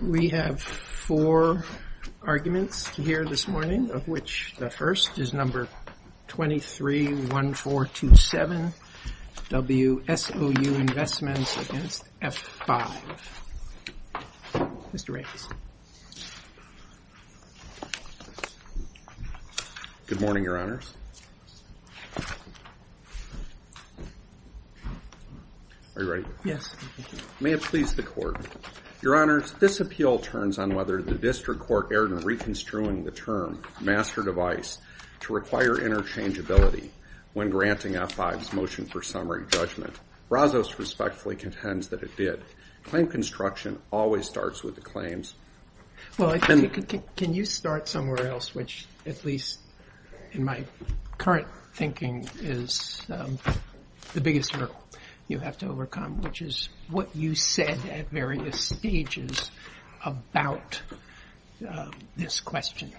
We have four arguments here this morning, of which the first is number 231427, WSOU Investments against F5. Mr. Ramos. Good morning, Your Honors. Are you ready? Yes. May it please the Court. Your Honors, this appeal turns on whether the District Court erred in reconstruing the term, master device, to require interchangeability when granting F5's motion for summary judgment. Razzos respectfully contends that it did. Claim construction always starts with the claims. Well, can you start somewhere else, which at least in my current thinking is the biggest hurdle you have to overcome, which is what you said at various stages about this question.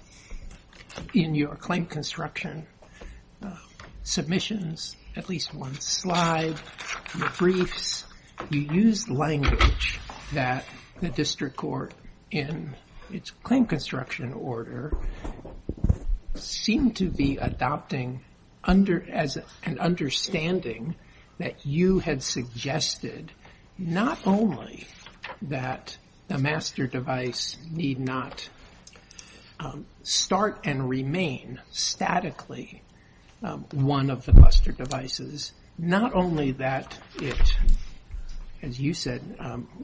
In your claim construction submissions, at least one slide, your briefs, you used language that the District Court, in its claim construction order, seemed to be adopting as an understanding that you had suggested not only that the master device need not start and remain statically one of the cluster devices, not only that it, as you said,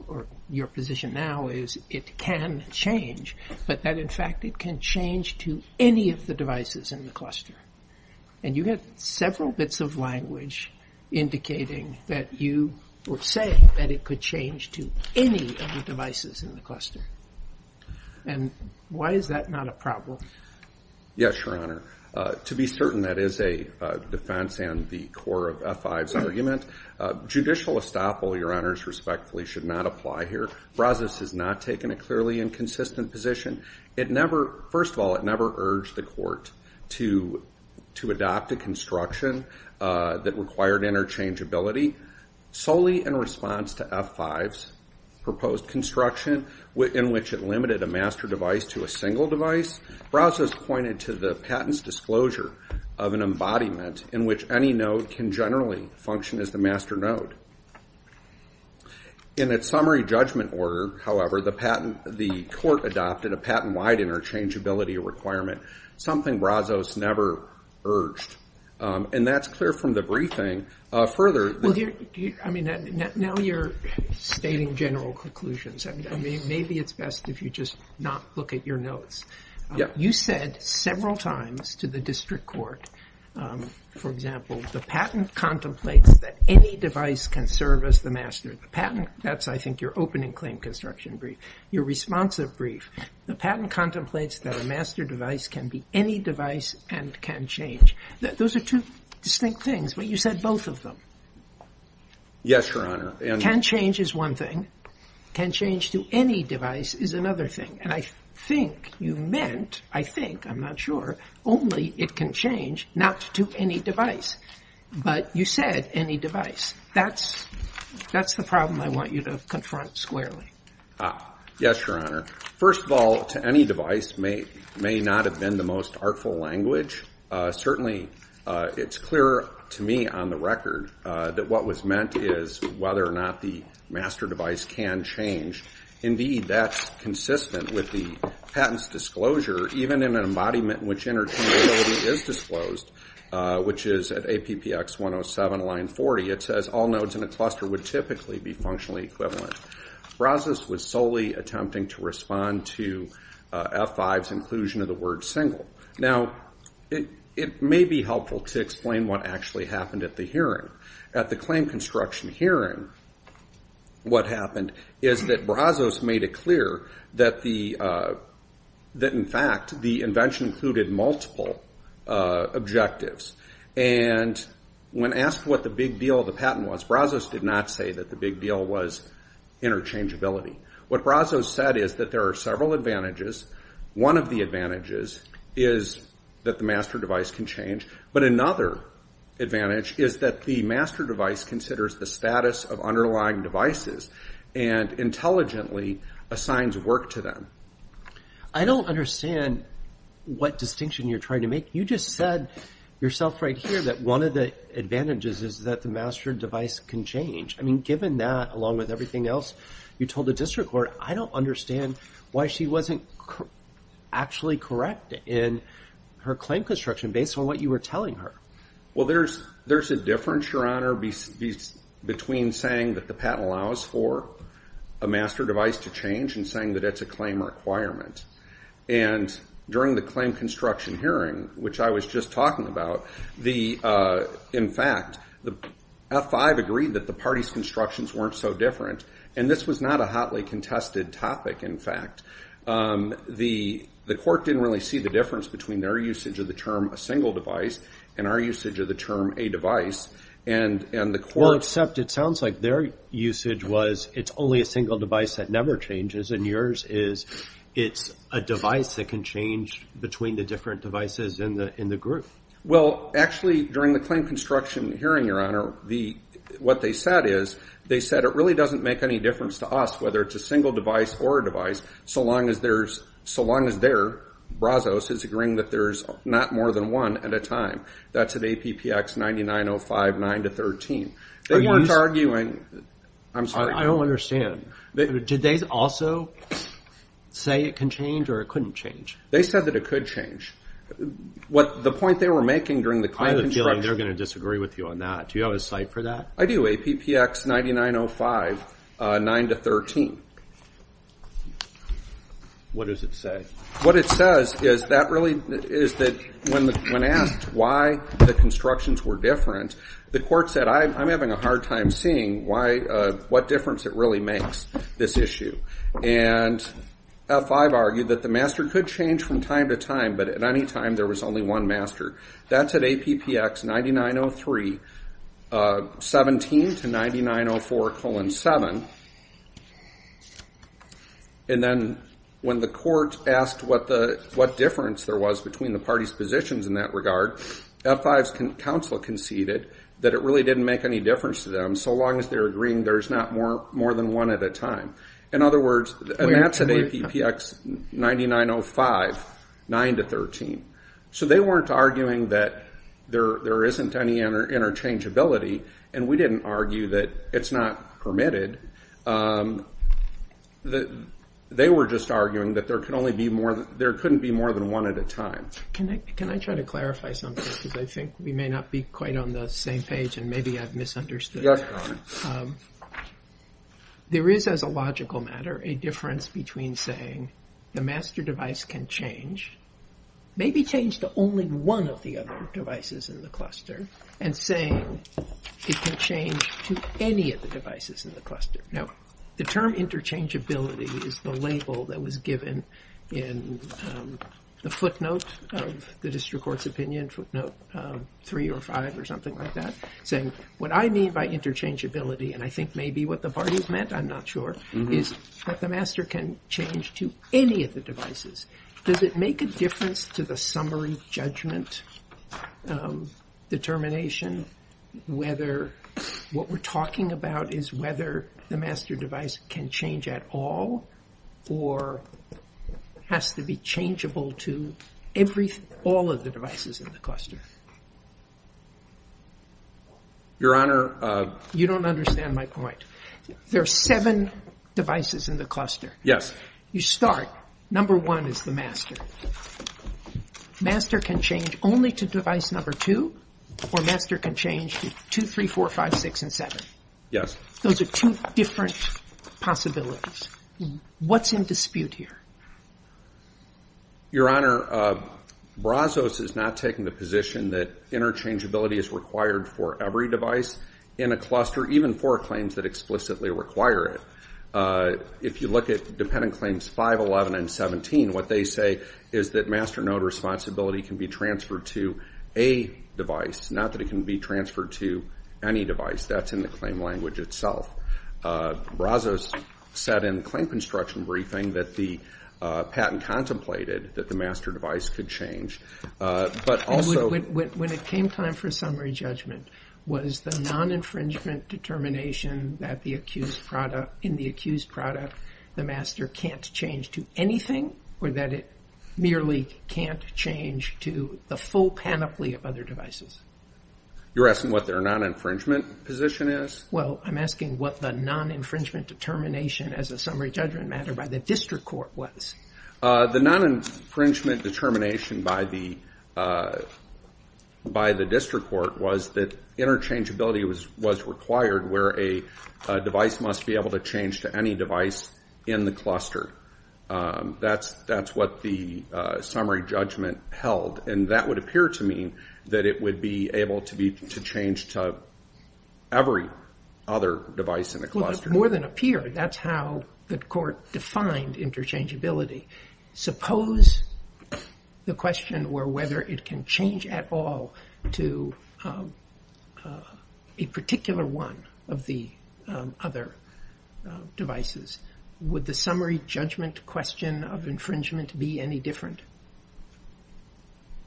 or your position now is it can change, but that in fact it can change to any of the devices in the cluster. And you had several bits of language indicating that you were saying that it could change to any of the devices in the cluster. And why is that not a problem? Yes, Your Honor. To be certain, that is a defense and the core of F5's argument. Judicial estoppel, Your Honors, respectfully, should not apply here. Brazos has not taken a clearly inconsistent position. First of all, it never urged the court to adopt a construction that required interchangeability. Solely in response to F5's proposed construction in which it limited a master device to a single device, Brazos pointed to the patent's disclosure of an embodiment in which any node can generally function as the master node. In its summary judgment order, however, the court adopted a patent-wide interchangeability requirement, something Brazos never urged. And that's clear from the briefing. Well, I mean, now you're stating general conclusions. I mean, maybe it's best if you just not look at your notes. You said several times to the district court, for example, the patent contemplates that any device can serve as the master. The patent, that's, I think, your opening claim construction brief. Your responsive brief, the patent contemplates that a master device can be any device and can change. Those are two distinct things, but you said both of them. Yes, Your Honor. Can change is one thing. Can change to any device is another thing. And I think you meant, I think, I'm not sure, only it can change not to any device. But you said any device. That's the problem I want you to confront squarely. Yes, Your Honor. First of all, to any device may not have been the most artful language. Certainly, it's clear to me on the record that what was meant is whether or not the master device can change. Indeed, that's consistent with the patent's disclosure, even in an embodiment in which interchangeability is disclosed, which is at APPX 107, line 40. It says all nodes in a cluster would typically be functionally equivalent. Brazos was solely attempting to respond to F5's inclusion of the word single. Now, it may be helpful to explain what actually happened at the hearing. At the claim construction hearing, what happened is that Brazos made it clear that, in fact, the invention included multiple objectives. And when asked what the big deal of the patent was, Brazos did not say that the big deal was interchangeability. What Brazos said is that there are several advantages. One of the advantages is that the master device can change. But another advantage is that the master device considers the status of underlying devices and intelligently assigns work to them. I don't understand what distinction you're trying to make. You just said yourself right here that one of the advantages is that the master device can change. I mean, given that, along with everything else you told the district court, I don't understand why she wasn't actually correct in her claim construction based on what you were telling her. Well, there's a difference, Your Honor, between saying that the patent allows for a master device to change and saying that it's a claim requirement. And during the claim construction hearing, which I was just talking about, in fact, the F5 agreed that the party's constructions weren't so different. And this was not a hotly contested topic, in fact. The court didn't really see the difference between their usage of the term a single device and our usage of the term a device. Well, except it sounds like their usage was it's only a single device that never changes, and yours is it's a device that can change between the different devices in the group. Well, actually, during the claim construction hearing, Your Honor, what they said is, they said it really doesn't make any difference to us whether it's a single device or a device, so long as their brazos is agreeing that there's not more than one at a time. That's at APPX 9905 9-13. They weren't arguing. I'm sorry. I don't understand. Did they also say it can change or it couldn't change? They said that it could change. The point they were making during the claim construction hearing. I have a feeling they're going to disagree with you on that. Do you have a cite for that? I do, APPX 9905 9-13. What does it say? What it says is that when asked why the constructions were different, the court said, I'm having a hard time seeing what difference it really makes, this issue. And F5 argued that the master could change from time to time, but at any time there was only one master. That's at APPX 9903 17-9904 colon 7. And then when the court asked what difference there was between the parties' positions in that regard, F5's counsel conceded that it really didn't make any difference to them, so long as they're agreeing there's not more than one at a time. In other words, that's at APPX 9905 9-13. So they weren't arguing that there isn't any interchangeability, and we didn't argue that it's not permitted. They were just arguing that there couldn't be more than one at a time. Can I try to clarify something? Because I think we may not be quite on the same page, and maybe I've misunderstood. Yes, Don. There is, as a logical matter, a difference between saying the master device can change, maybe change to only one of the other devices in the cluster, and saying it can change to any of the devices in the cluster. Now, the term interchangeability is the label that was given in the footnote of the district court's opinion, footnote 3 or 5 or something like that, saying what I mean by interchangeability, and I think maybe what the parties meant, I'm not sure, is that the master can change to any of the devices. Does it make a difference to the summary judgment determination whether what we're talking about is whether the master device can change at all or has to be changeable to all of the devices in the cluster? Your Honor. You don't understand my point. There are seven devices in the cluster. Yes. You start, number one is the master. Master can change only to device number two, or master can change to 2, 3, 4, 5, 6, and 7. Yes. Those are two different possibilities. What's in dispute here? Your Honor, Brazos is not taking the position that interchangeability is required for every device in a cluster, even for claims that explicitly require it. If you look at dependent claims 511 and 17, what they say is that master node responsibility can be transferred to a device, not that it can be transferred to any device. That's in the claim language itself. Brazos said in the claim construction briefing that the patent contemplated that the master device could change. When it came time for summary judgment, was the non-infringement determination that in the accused product the master can't change to anything or that it merely can't change to the full panoply of other devices? You're asking what their non-infringement position is? Well, I'm asking what the non-infringement determination as a summary judgment matter by the district court was. The non-infringement determination by the district court was that interchangeability was required where a device must be able to change to any device in the cluster. That's what the summary judgment held, and that would appear to mean that it would be able to change to every other device in the cluster. More than appear, that's how the court defined interchangeability. Suppose the question were whether it can change at all to a particular one of the other devices. Would the summary judgment question of infringement be any different?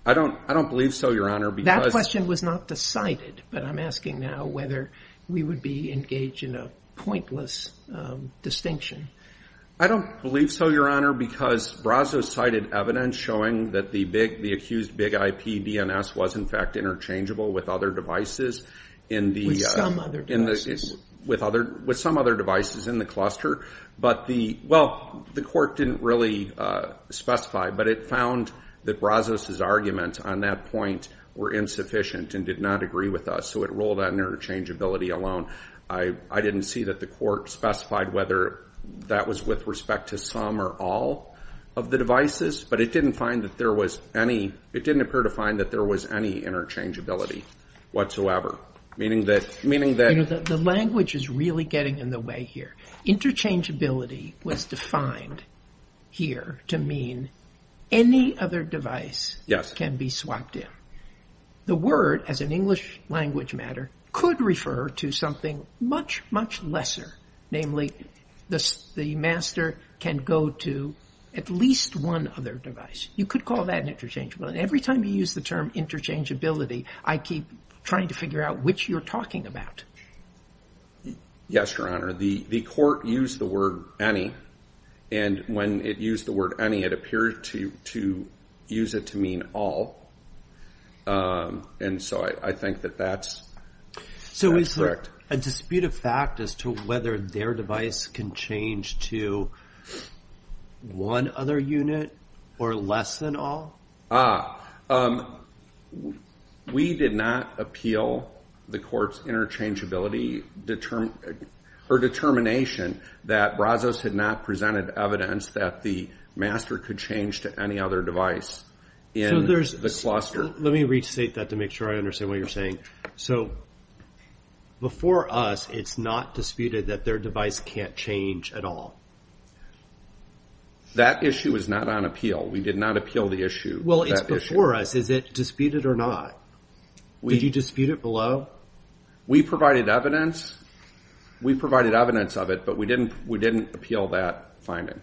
I don't believe so, Your Honor. That question was not decided, but I'm asking now whether we would be engaged in a pointless distinction. I don't believe so, Your Honor, because Brazos cited evidence showing that the accused Big IP DNS was, in fact, interchangeable with other devices. With some other devices? With some other devices in the cluster. Well, the court didn't really specify, but it found that Brazos' arguments on that point were insufficient and did not agree with us, so it ruled on interchangeability alone. I didn't see that the court specified whether that was with respect to some or all of the devices, but it didn't appear to find that there was any interchangeability whatsoever, meaning that. The language is really getting in the way here. Interchangeability was defined here to mean any other device can be swapped in. The word, as an English language matter, could refer to something much, much lesser, namely the master can go to at least one other device. You could call that interchangeable, and every time you use the term interchangeability, I keep trying to figure out which you're talking about. Yes, Your Honor. The court used the word any, and when it used the word any, it appeared to use it to mean all, and so I think that that's correct. A disputed fact as to whether their device can change to one other unit or less than all? We did not appeal the court's interchangeability or determination that Brazos had not presented evidence that the master could change to any other device in the cluster. Let me restate that to make sure I understand what you're saying. Okay, so before us, it's not disputed that their device can't change at all? That issue is not on appeal. We did not appeal the issue. Well, it's before us. Is it disputed or not? Did you dispute it below? We provided evidence of it, but we didn't appeal that finding.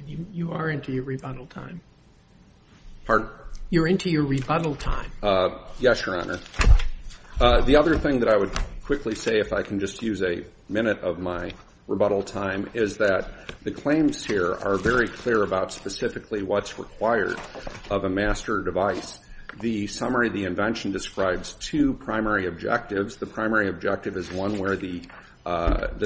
Okay. You are into your rebuttal time. Pardon? You're into your rebuttal time. Yes, Your Honor. The other thing that I would quickly say, if I can just use a minute of my rebuttal time, is that the claims here are very clear about specifically what's required of a master device. The summary of the invention describes two primary objectives. The primary objective is one where the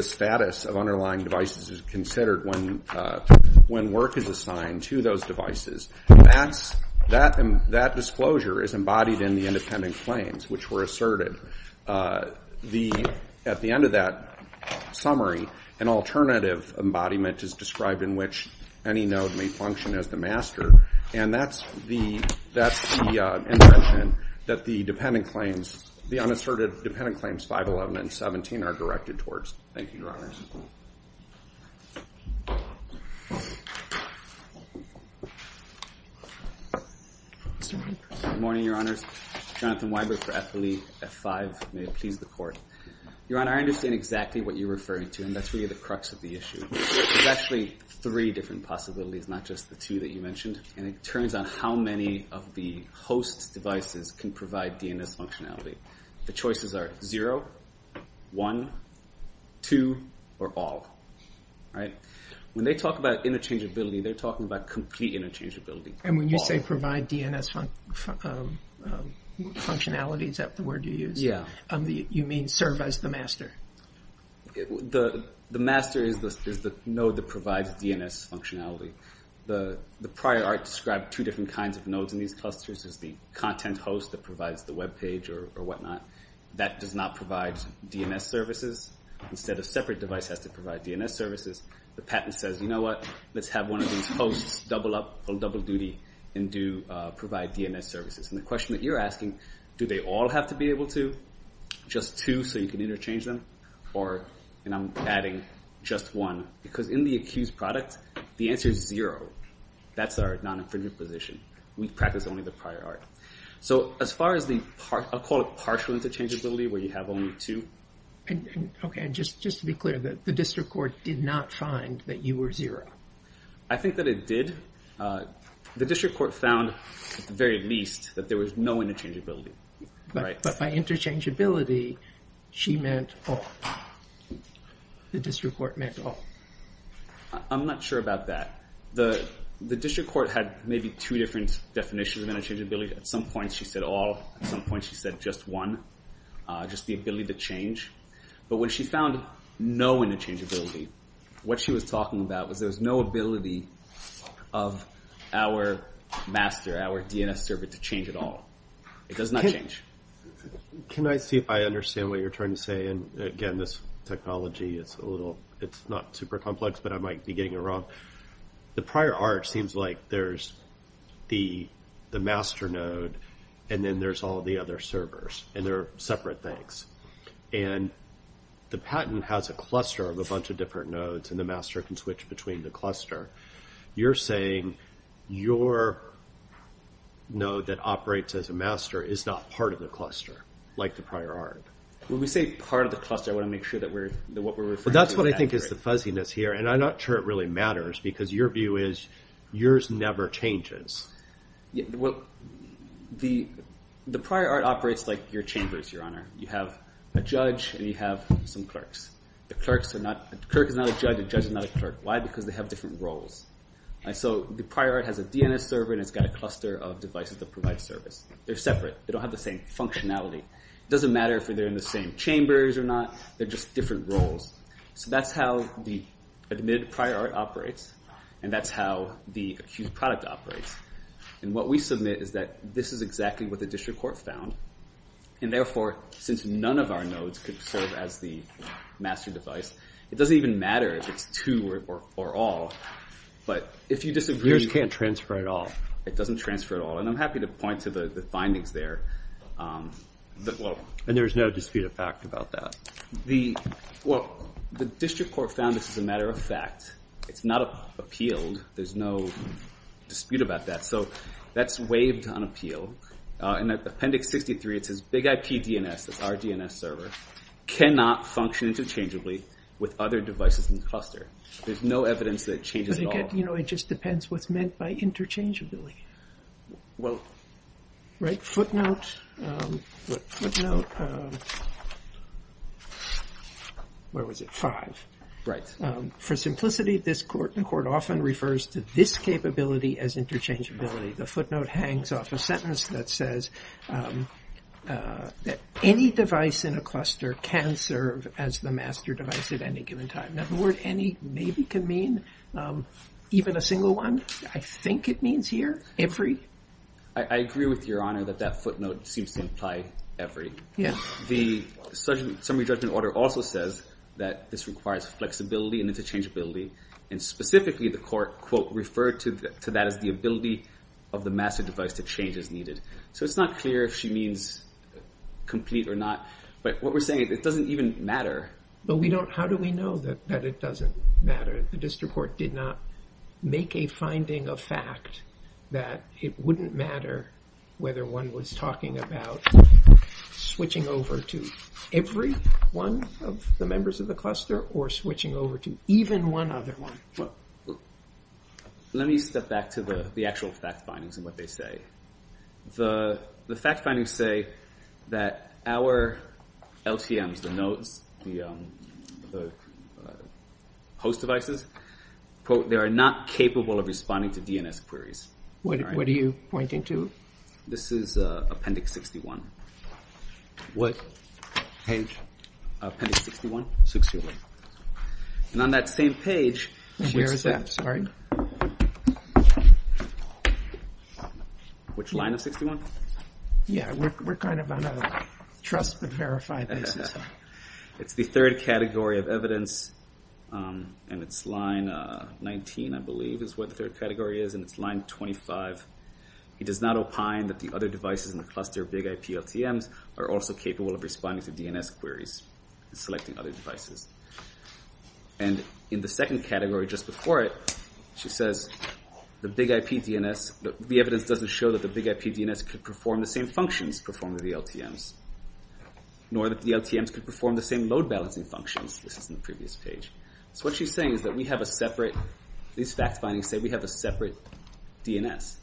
status of underlying devices is considered when work is assigned to those devices. That disclosure is embodied in the independent claims, which were asserted. At the end of that summary, an alternative embodiment is described in which any node may function as the master, and that's the invention that the unasserted dependent claims 511 and 17 are directed towards. Thank you, Your Honors. Good morning, Your Honors. Jonathan Weiber for Eppley F5. May it please the Court. Your Honor, I understand exactly what you're referring to, and that's really the crux of the issue. There's actually three different possibilities, not just the two that you mentioned. It turns on how many of the host's devices can provide DNS functionality. The choices are zero, one, two, or all. When they talk about interchangeability, they're talking about complete interchangeability. When you say provide DNS functionalities, is that the word you use? Yeah. You mean serve as the master? The master is the node that provides DNS functionality. The prior art described two different kinds of nodes in these clusters. There's the content host that provides the web page or whatnot. That does not provide DNS services. Instead, a separate device has to provide DNS services. The patent says, you know what, let's have one of these hosts double up on double duty and provide DNS services. The question that you're asking, do they all have to be able to? Just two so you can interchange them? Or, and I'm adding, just one. Because in the accused product, the answer is zero. That's our non-infringement position. We practice only the prior art. As far as the, I'll call it partial interchangeability, where you have only two. Okay, and just to be clear, the district court did not find that you were zero? I think that it did. The district court found, at the very least, that there was no interchangeability. But by interchangeability, she meant all. The district court meant all. I'm not sure about that. The district court had maybe two different definitions of interchangeability. At some point she said all. At some point she said just one. Just the ability to change. But when she found no interchangeability, what she was talking about was there was no ability of our master, our DNS server, to change at all. It does not change. Can I see if I understand what you're trying to say? Again, this technology, it's not super complex, but I might be getting it wrong. The prior art seems like there's the master node, and then there's all the other servers. And they're separate things. The patent has a cluster of a bunch of different nodes, and the master can switch between the cluster. You're saying your node that operates as a master is not part of the cluster, like the prior art. When we say part of the cluster, I want to make sure that what we're referring to is accurate. That's what I think is the fuzziness here, and I'm not sure it really matters, because your view is yours never changes. The prior art operates like your chambers, Your Honor. You have a judge, and you have some clerks. The clerk is not a judge. The judge is not a clerk. Why? Because they have different roles. So the prior art has a DNS server, and it's got a cluster of devices that provide service. They're separate. They don't have the same functionality. It doesn't matter if they're in the same chambers or not. They're just different roles. So that's how the admitted prior art operates, and that's how the accused product operates. And what we submit is that this is exactly what the district court found, and therefore, since none of our nodes could serve as the master device, it doesn't even matter if it's two or all. But if you disagree, you can't transfer it all. It doesn't transfer it all, and I'm happy to point to the findings there. And there's no dispute of fact about that? Well, the district court found this is a matter of fact. It's not appealed. There's no dispute about that. So that's waived on appeal. In Appendix 63, it says, Big IP DNS, that's our DNS server, cannot function interchangeably with other devices in the cluster. There's no evidence that it changes at all. But again, you know, it just depends what's meant by interchangeably. Right? Footnote. Where was it? Five. Right. For simplicity, this court often refers to this capability as interchangeability. The footnote hangs off a sentence that says that any device in a cluster can serve as the master device at any given time. Now, the word any maybe can mean even a single one. I think it means here every. I agree with Your Honor that that footnote seems to imply every. Yeah. The summary judgment order also says that this requires flexibility and interchangeability. And specifically, the court, quote, referred to that as the ability of the master device to change as needed. So it's not clear if she means complete or not. But what we're saying, it doesn't even matter. But we don't, how do we know that it doesn't matter? The district court did not make a finding of fact that it wouldn't matter whether one was talking about switching over to every one of the members of the cluster or switching over to even one other one. Let me step back to the actual fact findings and what they say. The fact findings say that our LTMs, the nodes, the host devices, quote, they are not capable of responding to DNS queries. What are you pointing to? This is Appendix 61. What page? Appendix 61. 61. And on that same page, which line of 61? Yeah, we're kind of on a trust but verify basis. It's the third category of evidence, and it's line 19, I believe, is what the third category is. And it's line 25. It does not opine that the other devices in the cluster, big IP LTMs, are also capable of responding to DNS queries and selecting other devices. And in the second category just before it, she says, the evidence doesn't show that the big IP DNS could perform the same functions performed with the LTMs, nor that the LTMs could perform the same load balancing functions. This is in the previous page. So what she's saying is that we have a separate, these fact findings say we have a separate DNS,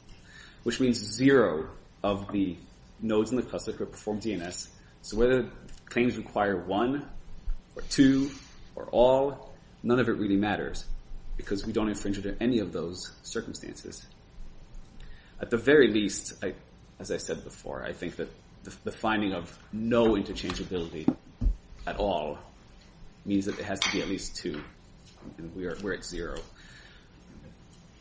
which means zero of the nodes in the cluster could perform DNS. So whether the claims require one or two or all, none of it really matters, because we don't infringe on any of those circumstances. At the very least, as I said before, I think that the finding of no interchangeability at all means that it has to be at least two, and we're at zero.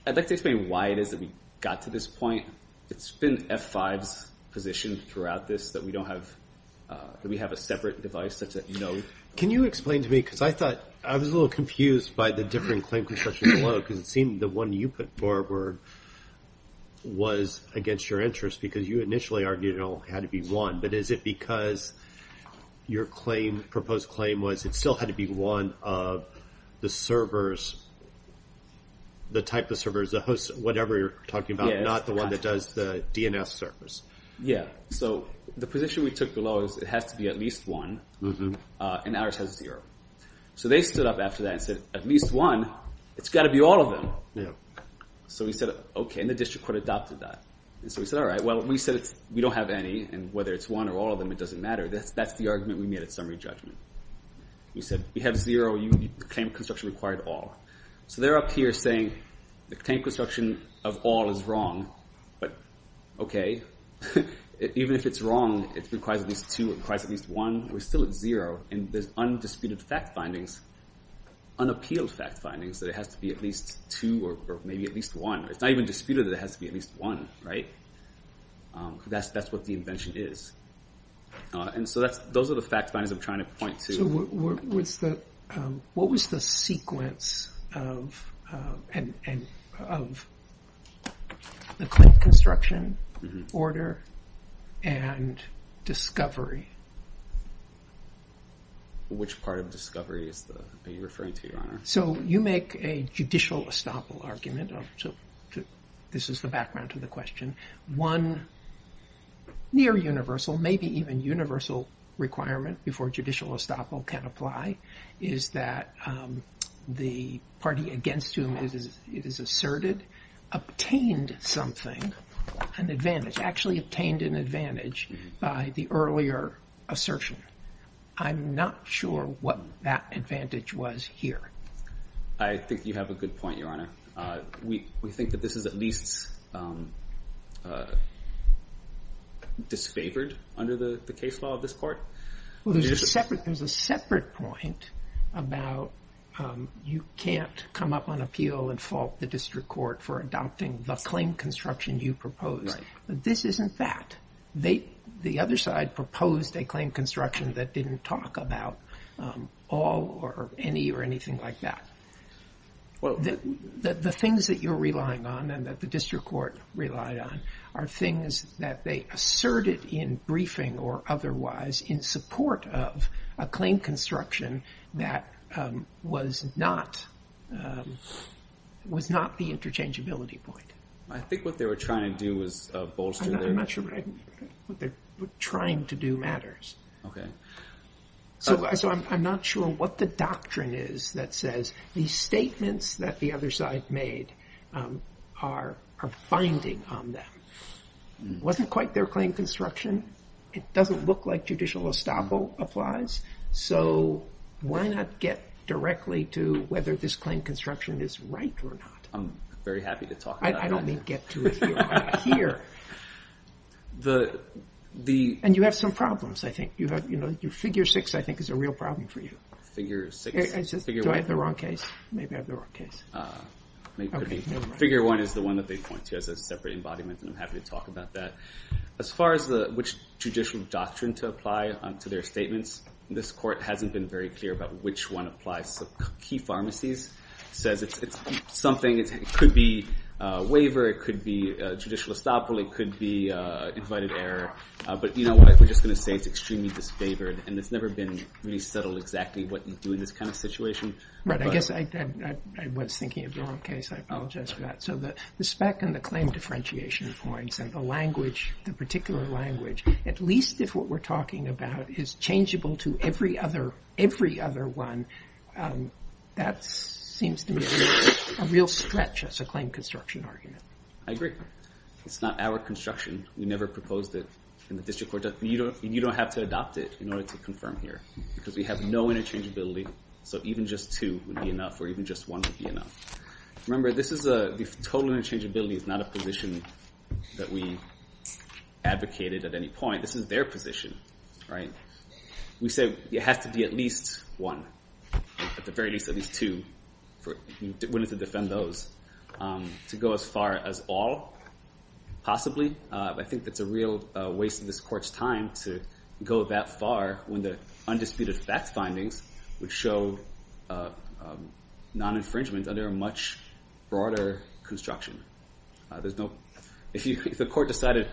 I'd like to explain why it is that we got to this point. It's been F5's position throughout this that we don't have, that we have a separate device such that no. Can you explain to me, because I thought, I was a little confused by the different claim concessions below, because it seemed the one you put forward was against your interest, because you initially argued it all had to be one. But is it because your proposed claim was it still had to be one of the servers, the type of servers, the host, whatever you're talking about, not the one that does the DNS servers? Yeah, so the position we took below is it has to be at least one, and ours has zero. So they stood up after that and said, at least one, it's got to be all of them. So we said, okay, and the district court adopted that. So we said, all right, well, we said we don't have any, and whether it's one or all of them, it doesn't matter. That's the argument we made at summary judgment. We said we have zero, the claim construction required all. So they're up here saying the claim construction of all is wrong. But okay, even if it's wrong, it requires at least two, it requires at least one. We're still at zero, and there's undisputed fact findings, unappealed fact findings, that it has to be at least two or maybe at least one. It's not even disputed that it has to be at least one, right? Because that's what the invention is. And so those are the fact findings I'm trying to point to. So what was the sequence of the claim construction order and discovery? Which part of discovery are you referring to, Your Honor? So you make a judicial estoppel argument. So this is the background to the question. One near universal, maybe even universal requirement before judicial estoppel can apply, is that the party against whom it is asserted obtained something, an advantage, actually obtained an advantage by the earlier assertion. I'm not sure what that advantage was here. I think you have a good point, Your Honor. We think that this is at least disfavored under the case law of this court. Well, there's a separate point about you can't come up on appeal and fault the district court for adopting the claim construction you proposed. This isn't that. The other side proposed a claim construction that didn't talk about all or any or anything like that. The things that you're relying on and that the district court relied on are things that they asserted in briefing or otherwise in support of a claim construction that was not the interchangeability point. I think what they were trying to do was bolster their- I'm not sure what they're trying to do matters. Okay. So I'm not sure what the doctrine is that says these statements that the other side made are finding on them. It wasn't quite their claim construction. It doesn't look like judicial estoppel applies. So why not get directly to whether this claim construction is right or not? I'm very happy to talk about that. I don't mean get to it here. And you have some problems, I think. Figure six, I think, is a real problem for you. Figure six. Do I have the wrong case? Maybe I have the wrong case. Figure one is the one that they point to as a separate embodiment, and I'm happy to talk about that. As far as which judicial doctrine to apply to their statements, this court hasn't been very clear about which one applies. Key pharmacies says it's something. It could be a waiver. It could be judicial estoppel. It could be invited error. But you know what? We're just going to say it's extremely disfavored, and it's never been really settled exactly what you do in this kind of situation. Right. I guess I was thinking of the wrong case. I apologize for that. So the spec and the claim differentiation points and the language, the particular language, at least if what we're talking about is changeable to every other one, that seems to be a real stretch as a claim construction argument. I agree. It's not our construction. We never proposed it in the district court. You don't have to adopt it in order to confirm here, because we have no interchangeability. So even just two would be enough, or even just one would be enough. Remember, this is a total interchangeability. It's not a position that we advocated at any point. This is their position. We say it has to be at least one, at the very least at least two, if you're willing to defend those, to go as far as all possibly. I think it's a real waste of this court's time to go that far when the undisputed facts findings would show non-infringement under a much broader construction. If the court decided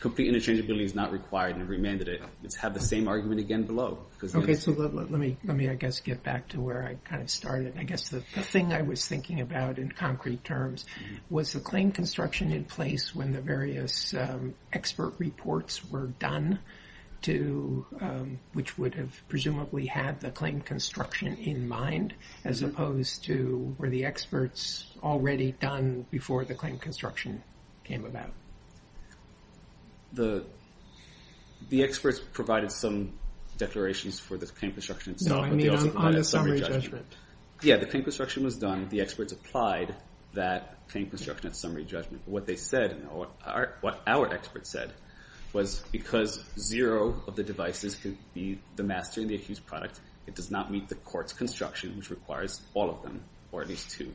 complete interchangeability is not required and remanded it, it's had the same argument again below. Okay, so let me, I guess, get back to where I kind of started. I guess the thing I was thinking about in concrete terms was the claim construction in place when the various expert reports were done, which would have presumably had the claim construction in mind as opposed to where the experts already done before the claim construction came about. The experts provided some declarations for the claim construction. No, I mean on the summary judgment. Yeah, the claim construction was done. The experts applied that claim construction at summary judgment. What they said, what our experts said, was because zero of the devices could be the master and the accused product, it does not meet the court's construction, which requires all of them, or at least two.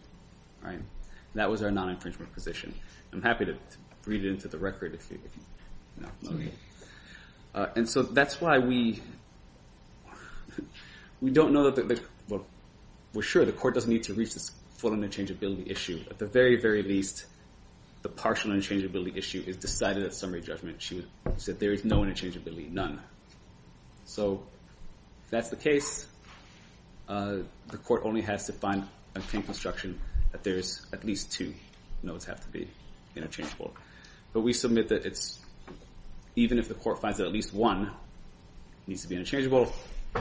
That was our non-infringement position. I'm happy to read it into the record if you want. And so that's why we don't know, we're sure the court doesn't need to reach this full interchangeability issue. At the very, very least, the partial interchangeability issue is decided at summary judgment. She said there is no interchangeability, none. So if that's the case, the court only has to find a claim construction that there is at least two nodes have to be interchangeable. But we submit that even if the court finds that at least one needs to be interchangeable,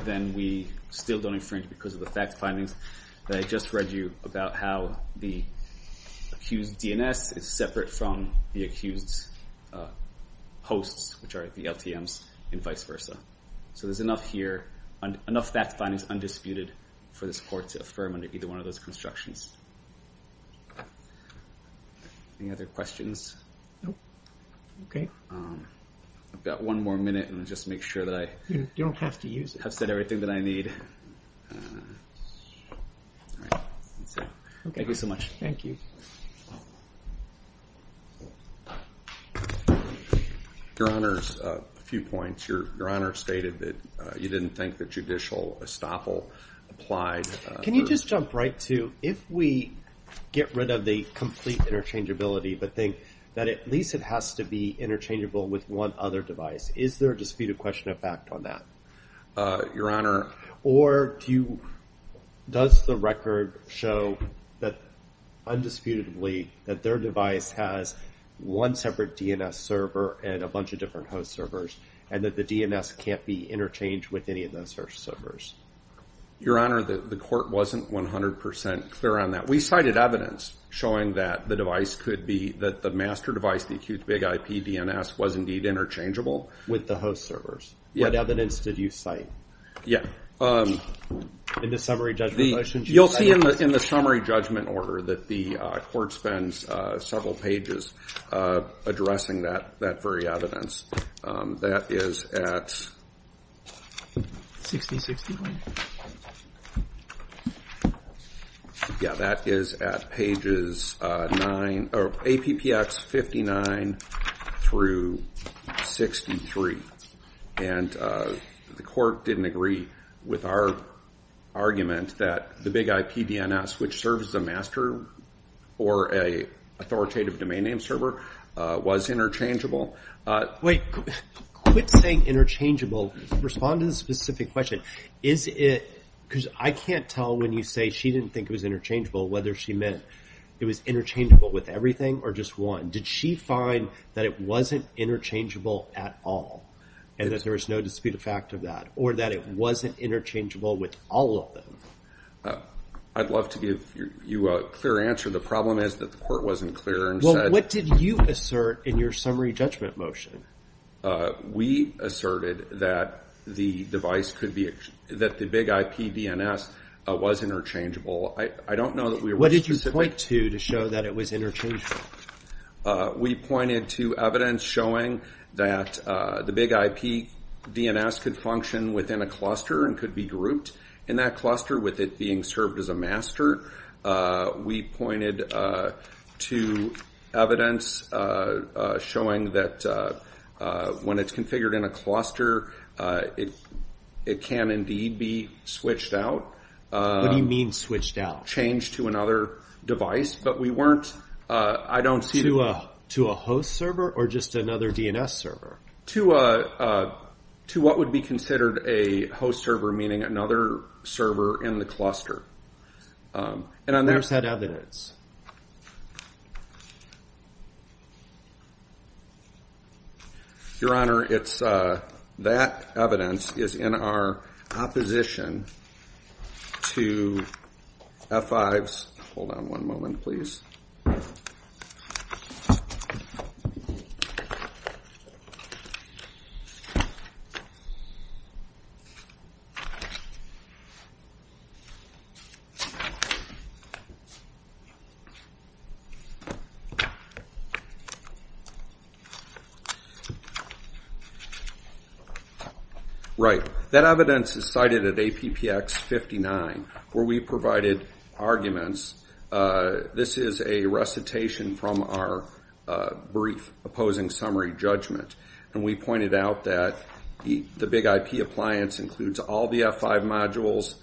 then we still don't infringe because of the facts findings. I just read you about how the accused DNS is separate from the accused hosts, which are the LTMs and vice versa. So there's enough here, enough facts findings undisputed, for this court to affirm under either one of those constructions. Any other questions? No. Okay. I've got one more minute, and I'll just make sure that I have said everything that I need. All right. Thank you so much. Thank you. Your Honor, a few points. Your Honor stated that you didn't think that judicial estoppel applied. Can you just jump right to if we get rid of the complete interchangeability, but think that at least it has to be interchangeable with one other device, is there a disputed question of fact on that? Your Honor. Or does the record show that undisputedly that their device has one separate DNS server and a bunch of different host servers, and that the DNS can't be interchanged with any of those servers? Your Honor, the court wasn't 100% clear on that. We cited evidence showing that the device could be, that the master device, the accused big IP DNS was indeed interchangeable. With the host servers? Yes. What evidence did you cite? Yeah. In the summary judgment? You'll see in the summary judgment order that the court spends several pages addressing that very evidence. That is at... 60-60? Yeah, that is at pages 9, or APPX 59 through 63. And the court didn't agree with our argument that the big IP DNS, which serves the master or an authoritative domain name server, was interchangeable. Wait, quit saying interchangeable. Respond to the specific question. Is it, because I can't tell when you say she didn't think it was interchangeable, whether she meant it was interchangeable with everything or just one. Did she find that it wasn't interchangeable at all and that there was no disputed fact of that, or that it wasn't interchangeable with all of them? I'd love to give you a clear answer. The problem is that the court wasn't clear and said... Well, what did you assert in your summary judgment motion? We asserted that the device could be, that the big IP DNS was interchangeable. I don't know that we were... What did you point to to show that it was interchangeable? We pointed to evidence showing that the big IP DNS could function within a cluster and could be grouped in that cluster with it being served as a master. We pointed to evidence showing that when it's configured in a cluster, it can indeed be switched out. What do you mean switched out? Changed to another device, but we weren't, I don't see... To a host server or just another DNS server? To what would be considered a host server, meaning another server in the cluster. Where's that evidence? Your Honor, it's, that evidence is in our opposition to F5's, hold on one moment, please. Right, that evidence is cited at APPX 59 where we provided arguments. This is a recitation from our brief opposing summary judgment, and we pointed out that the big IP appliance includes all the F5 modules.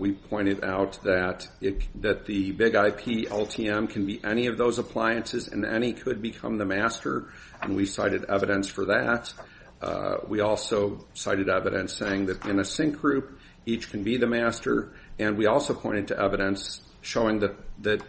We pointed out that the big IP LTM can be any of those appliances, and any could become the master, and we cited evidence for that. We also cited evidence saying that in a sync group, each can be the master, and we also pointed to evidence showing that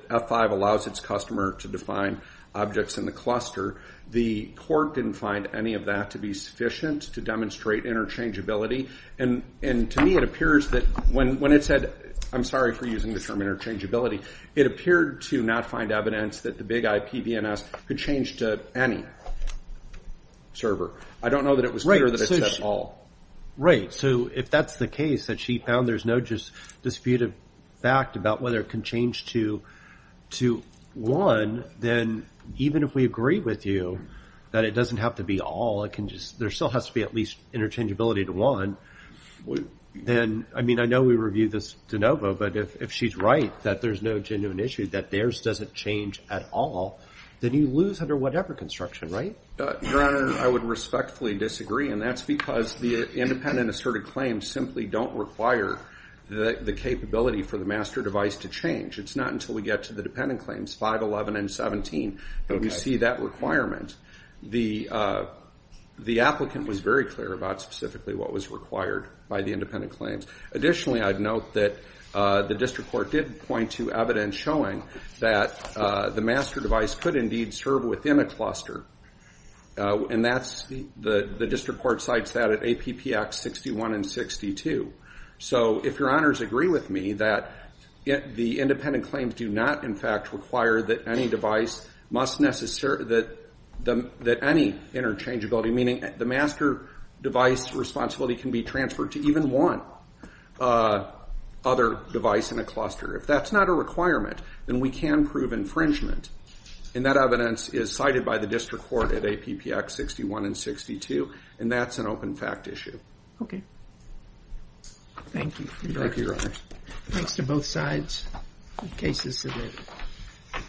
F5 allows its customer to define objects in the cluster. The court didn't find any of that to be sufficient to demonstrate interchangeability, and to me it appears that when it said, I'm sorry for using the term interchangeability, it appeared to not find evidence that the big IP DNS could change to any server. I don't know that it was clear that it's at all. Right, so if that's the case, that she found there's no just disputed fact about whether it can change to one, then even if we agree with you that it doesn't have to be all, it can just, there still has to be at least interchangeability to one, then, I mean, I know we reviewed this de novo, but if she's right that there's no genuine issue, that theirs doesn't change at all, then you lose under whatever construction, right? Your Honor, I would respectfully disagree, and that's because the independent asserted claims simply don't require the capability for the master device to change. It's not until we get to the dependent claims, 511 and 17, that we see that requirement. The applicant was very clear about specifically what was required by the independent claims. Additionally, I'd note that the district court did point to evidence showing that the master device could indeed serve within a cluster. And that's, the district court cites that at APP Act 61 and 62. So if Your Honors agree with me that the independent claims do not, in fact, require that any device must necessarily, that any interchangeability, meaning the master device responsibility can be transferred to even one other device in a cluster. If that's not a requirement, then we can prove infringement. And that evidence is cited by the district court at APP Act 61 and 62. And that's an open fact issue. Thank you. Thank you, Your Honors. Thanks to both sides. The case is submitted.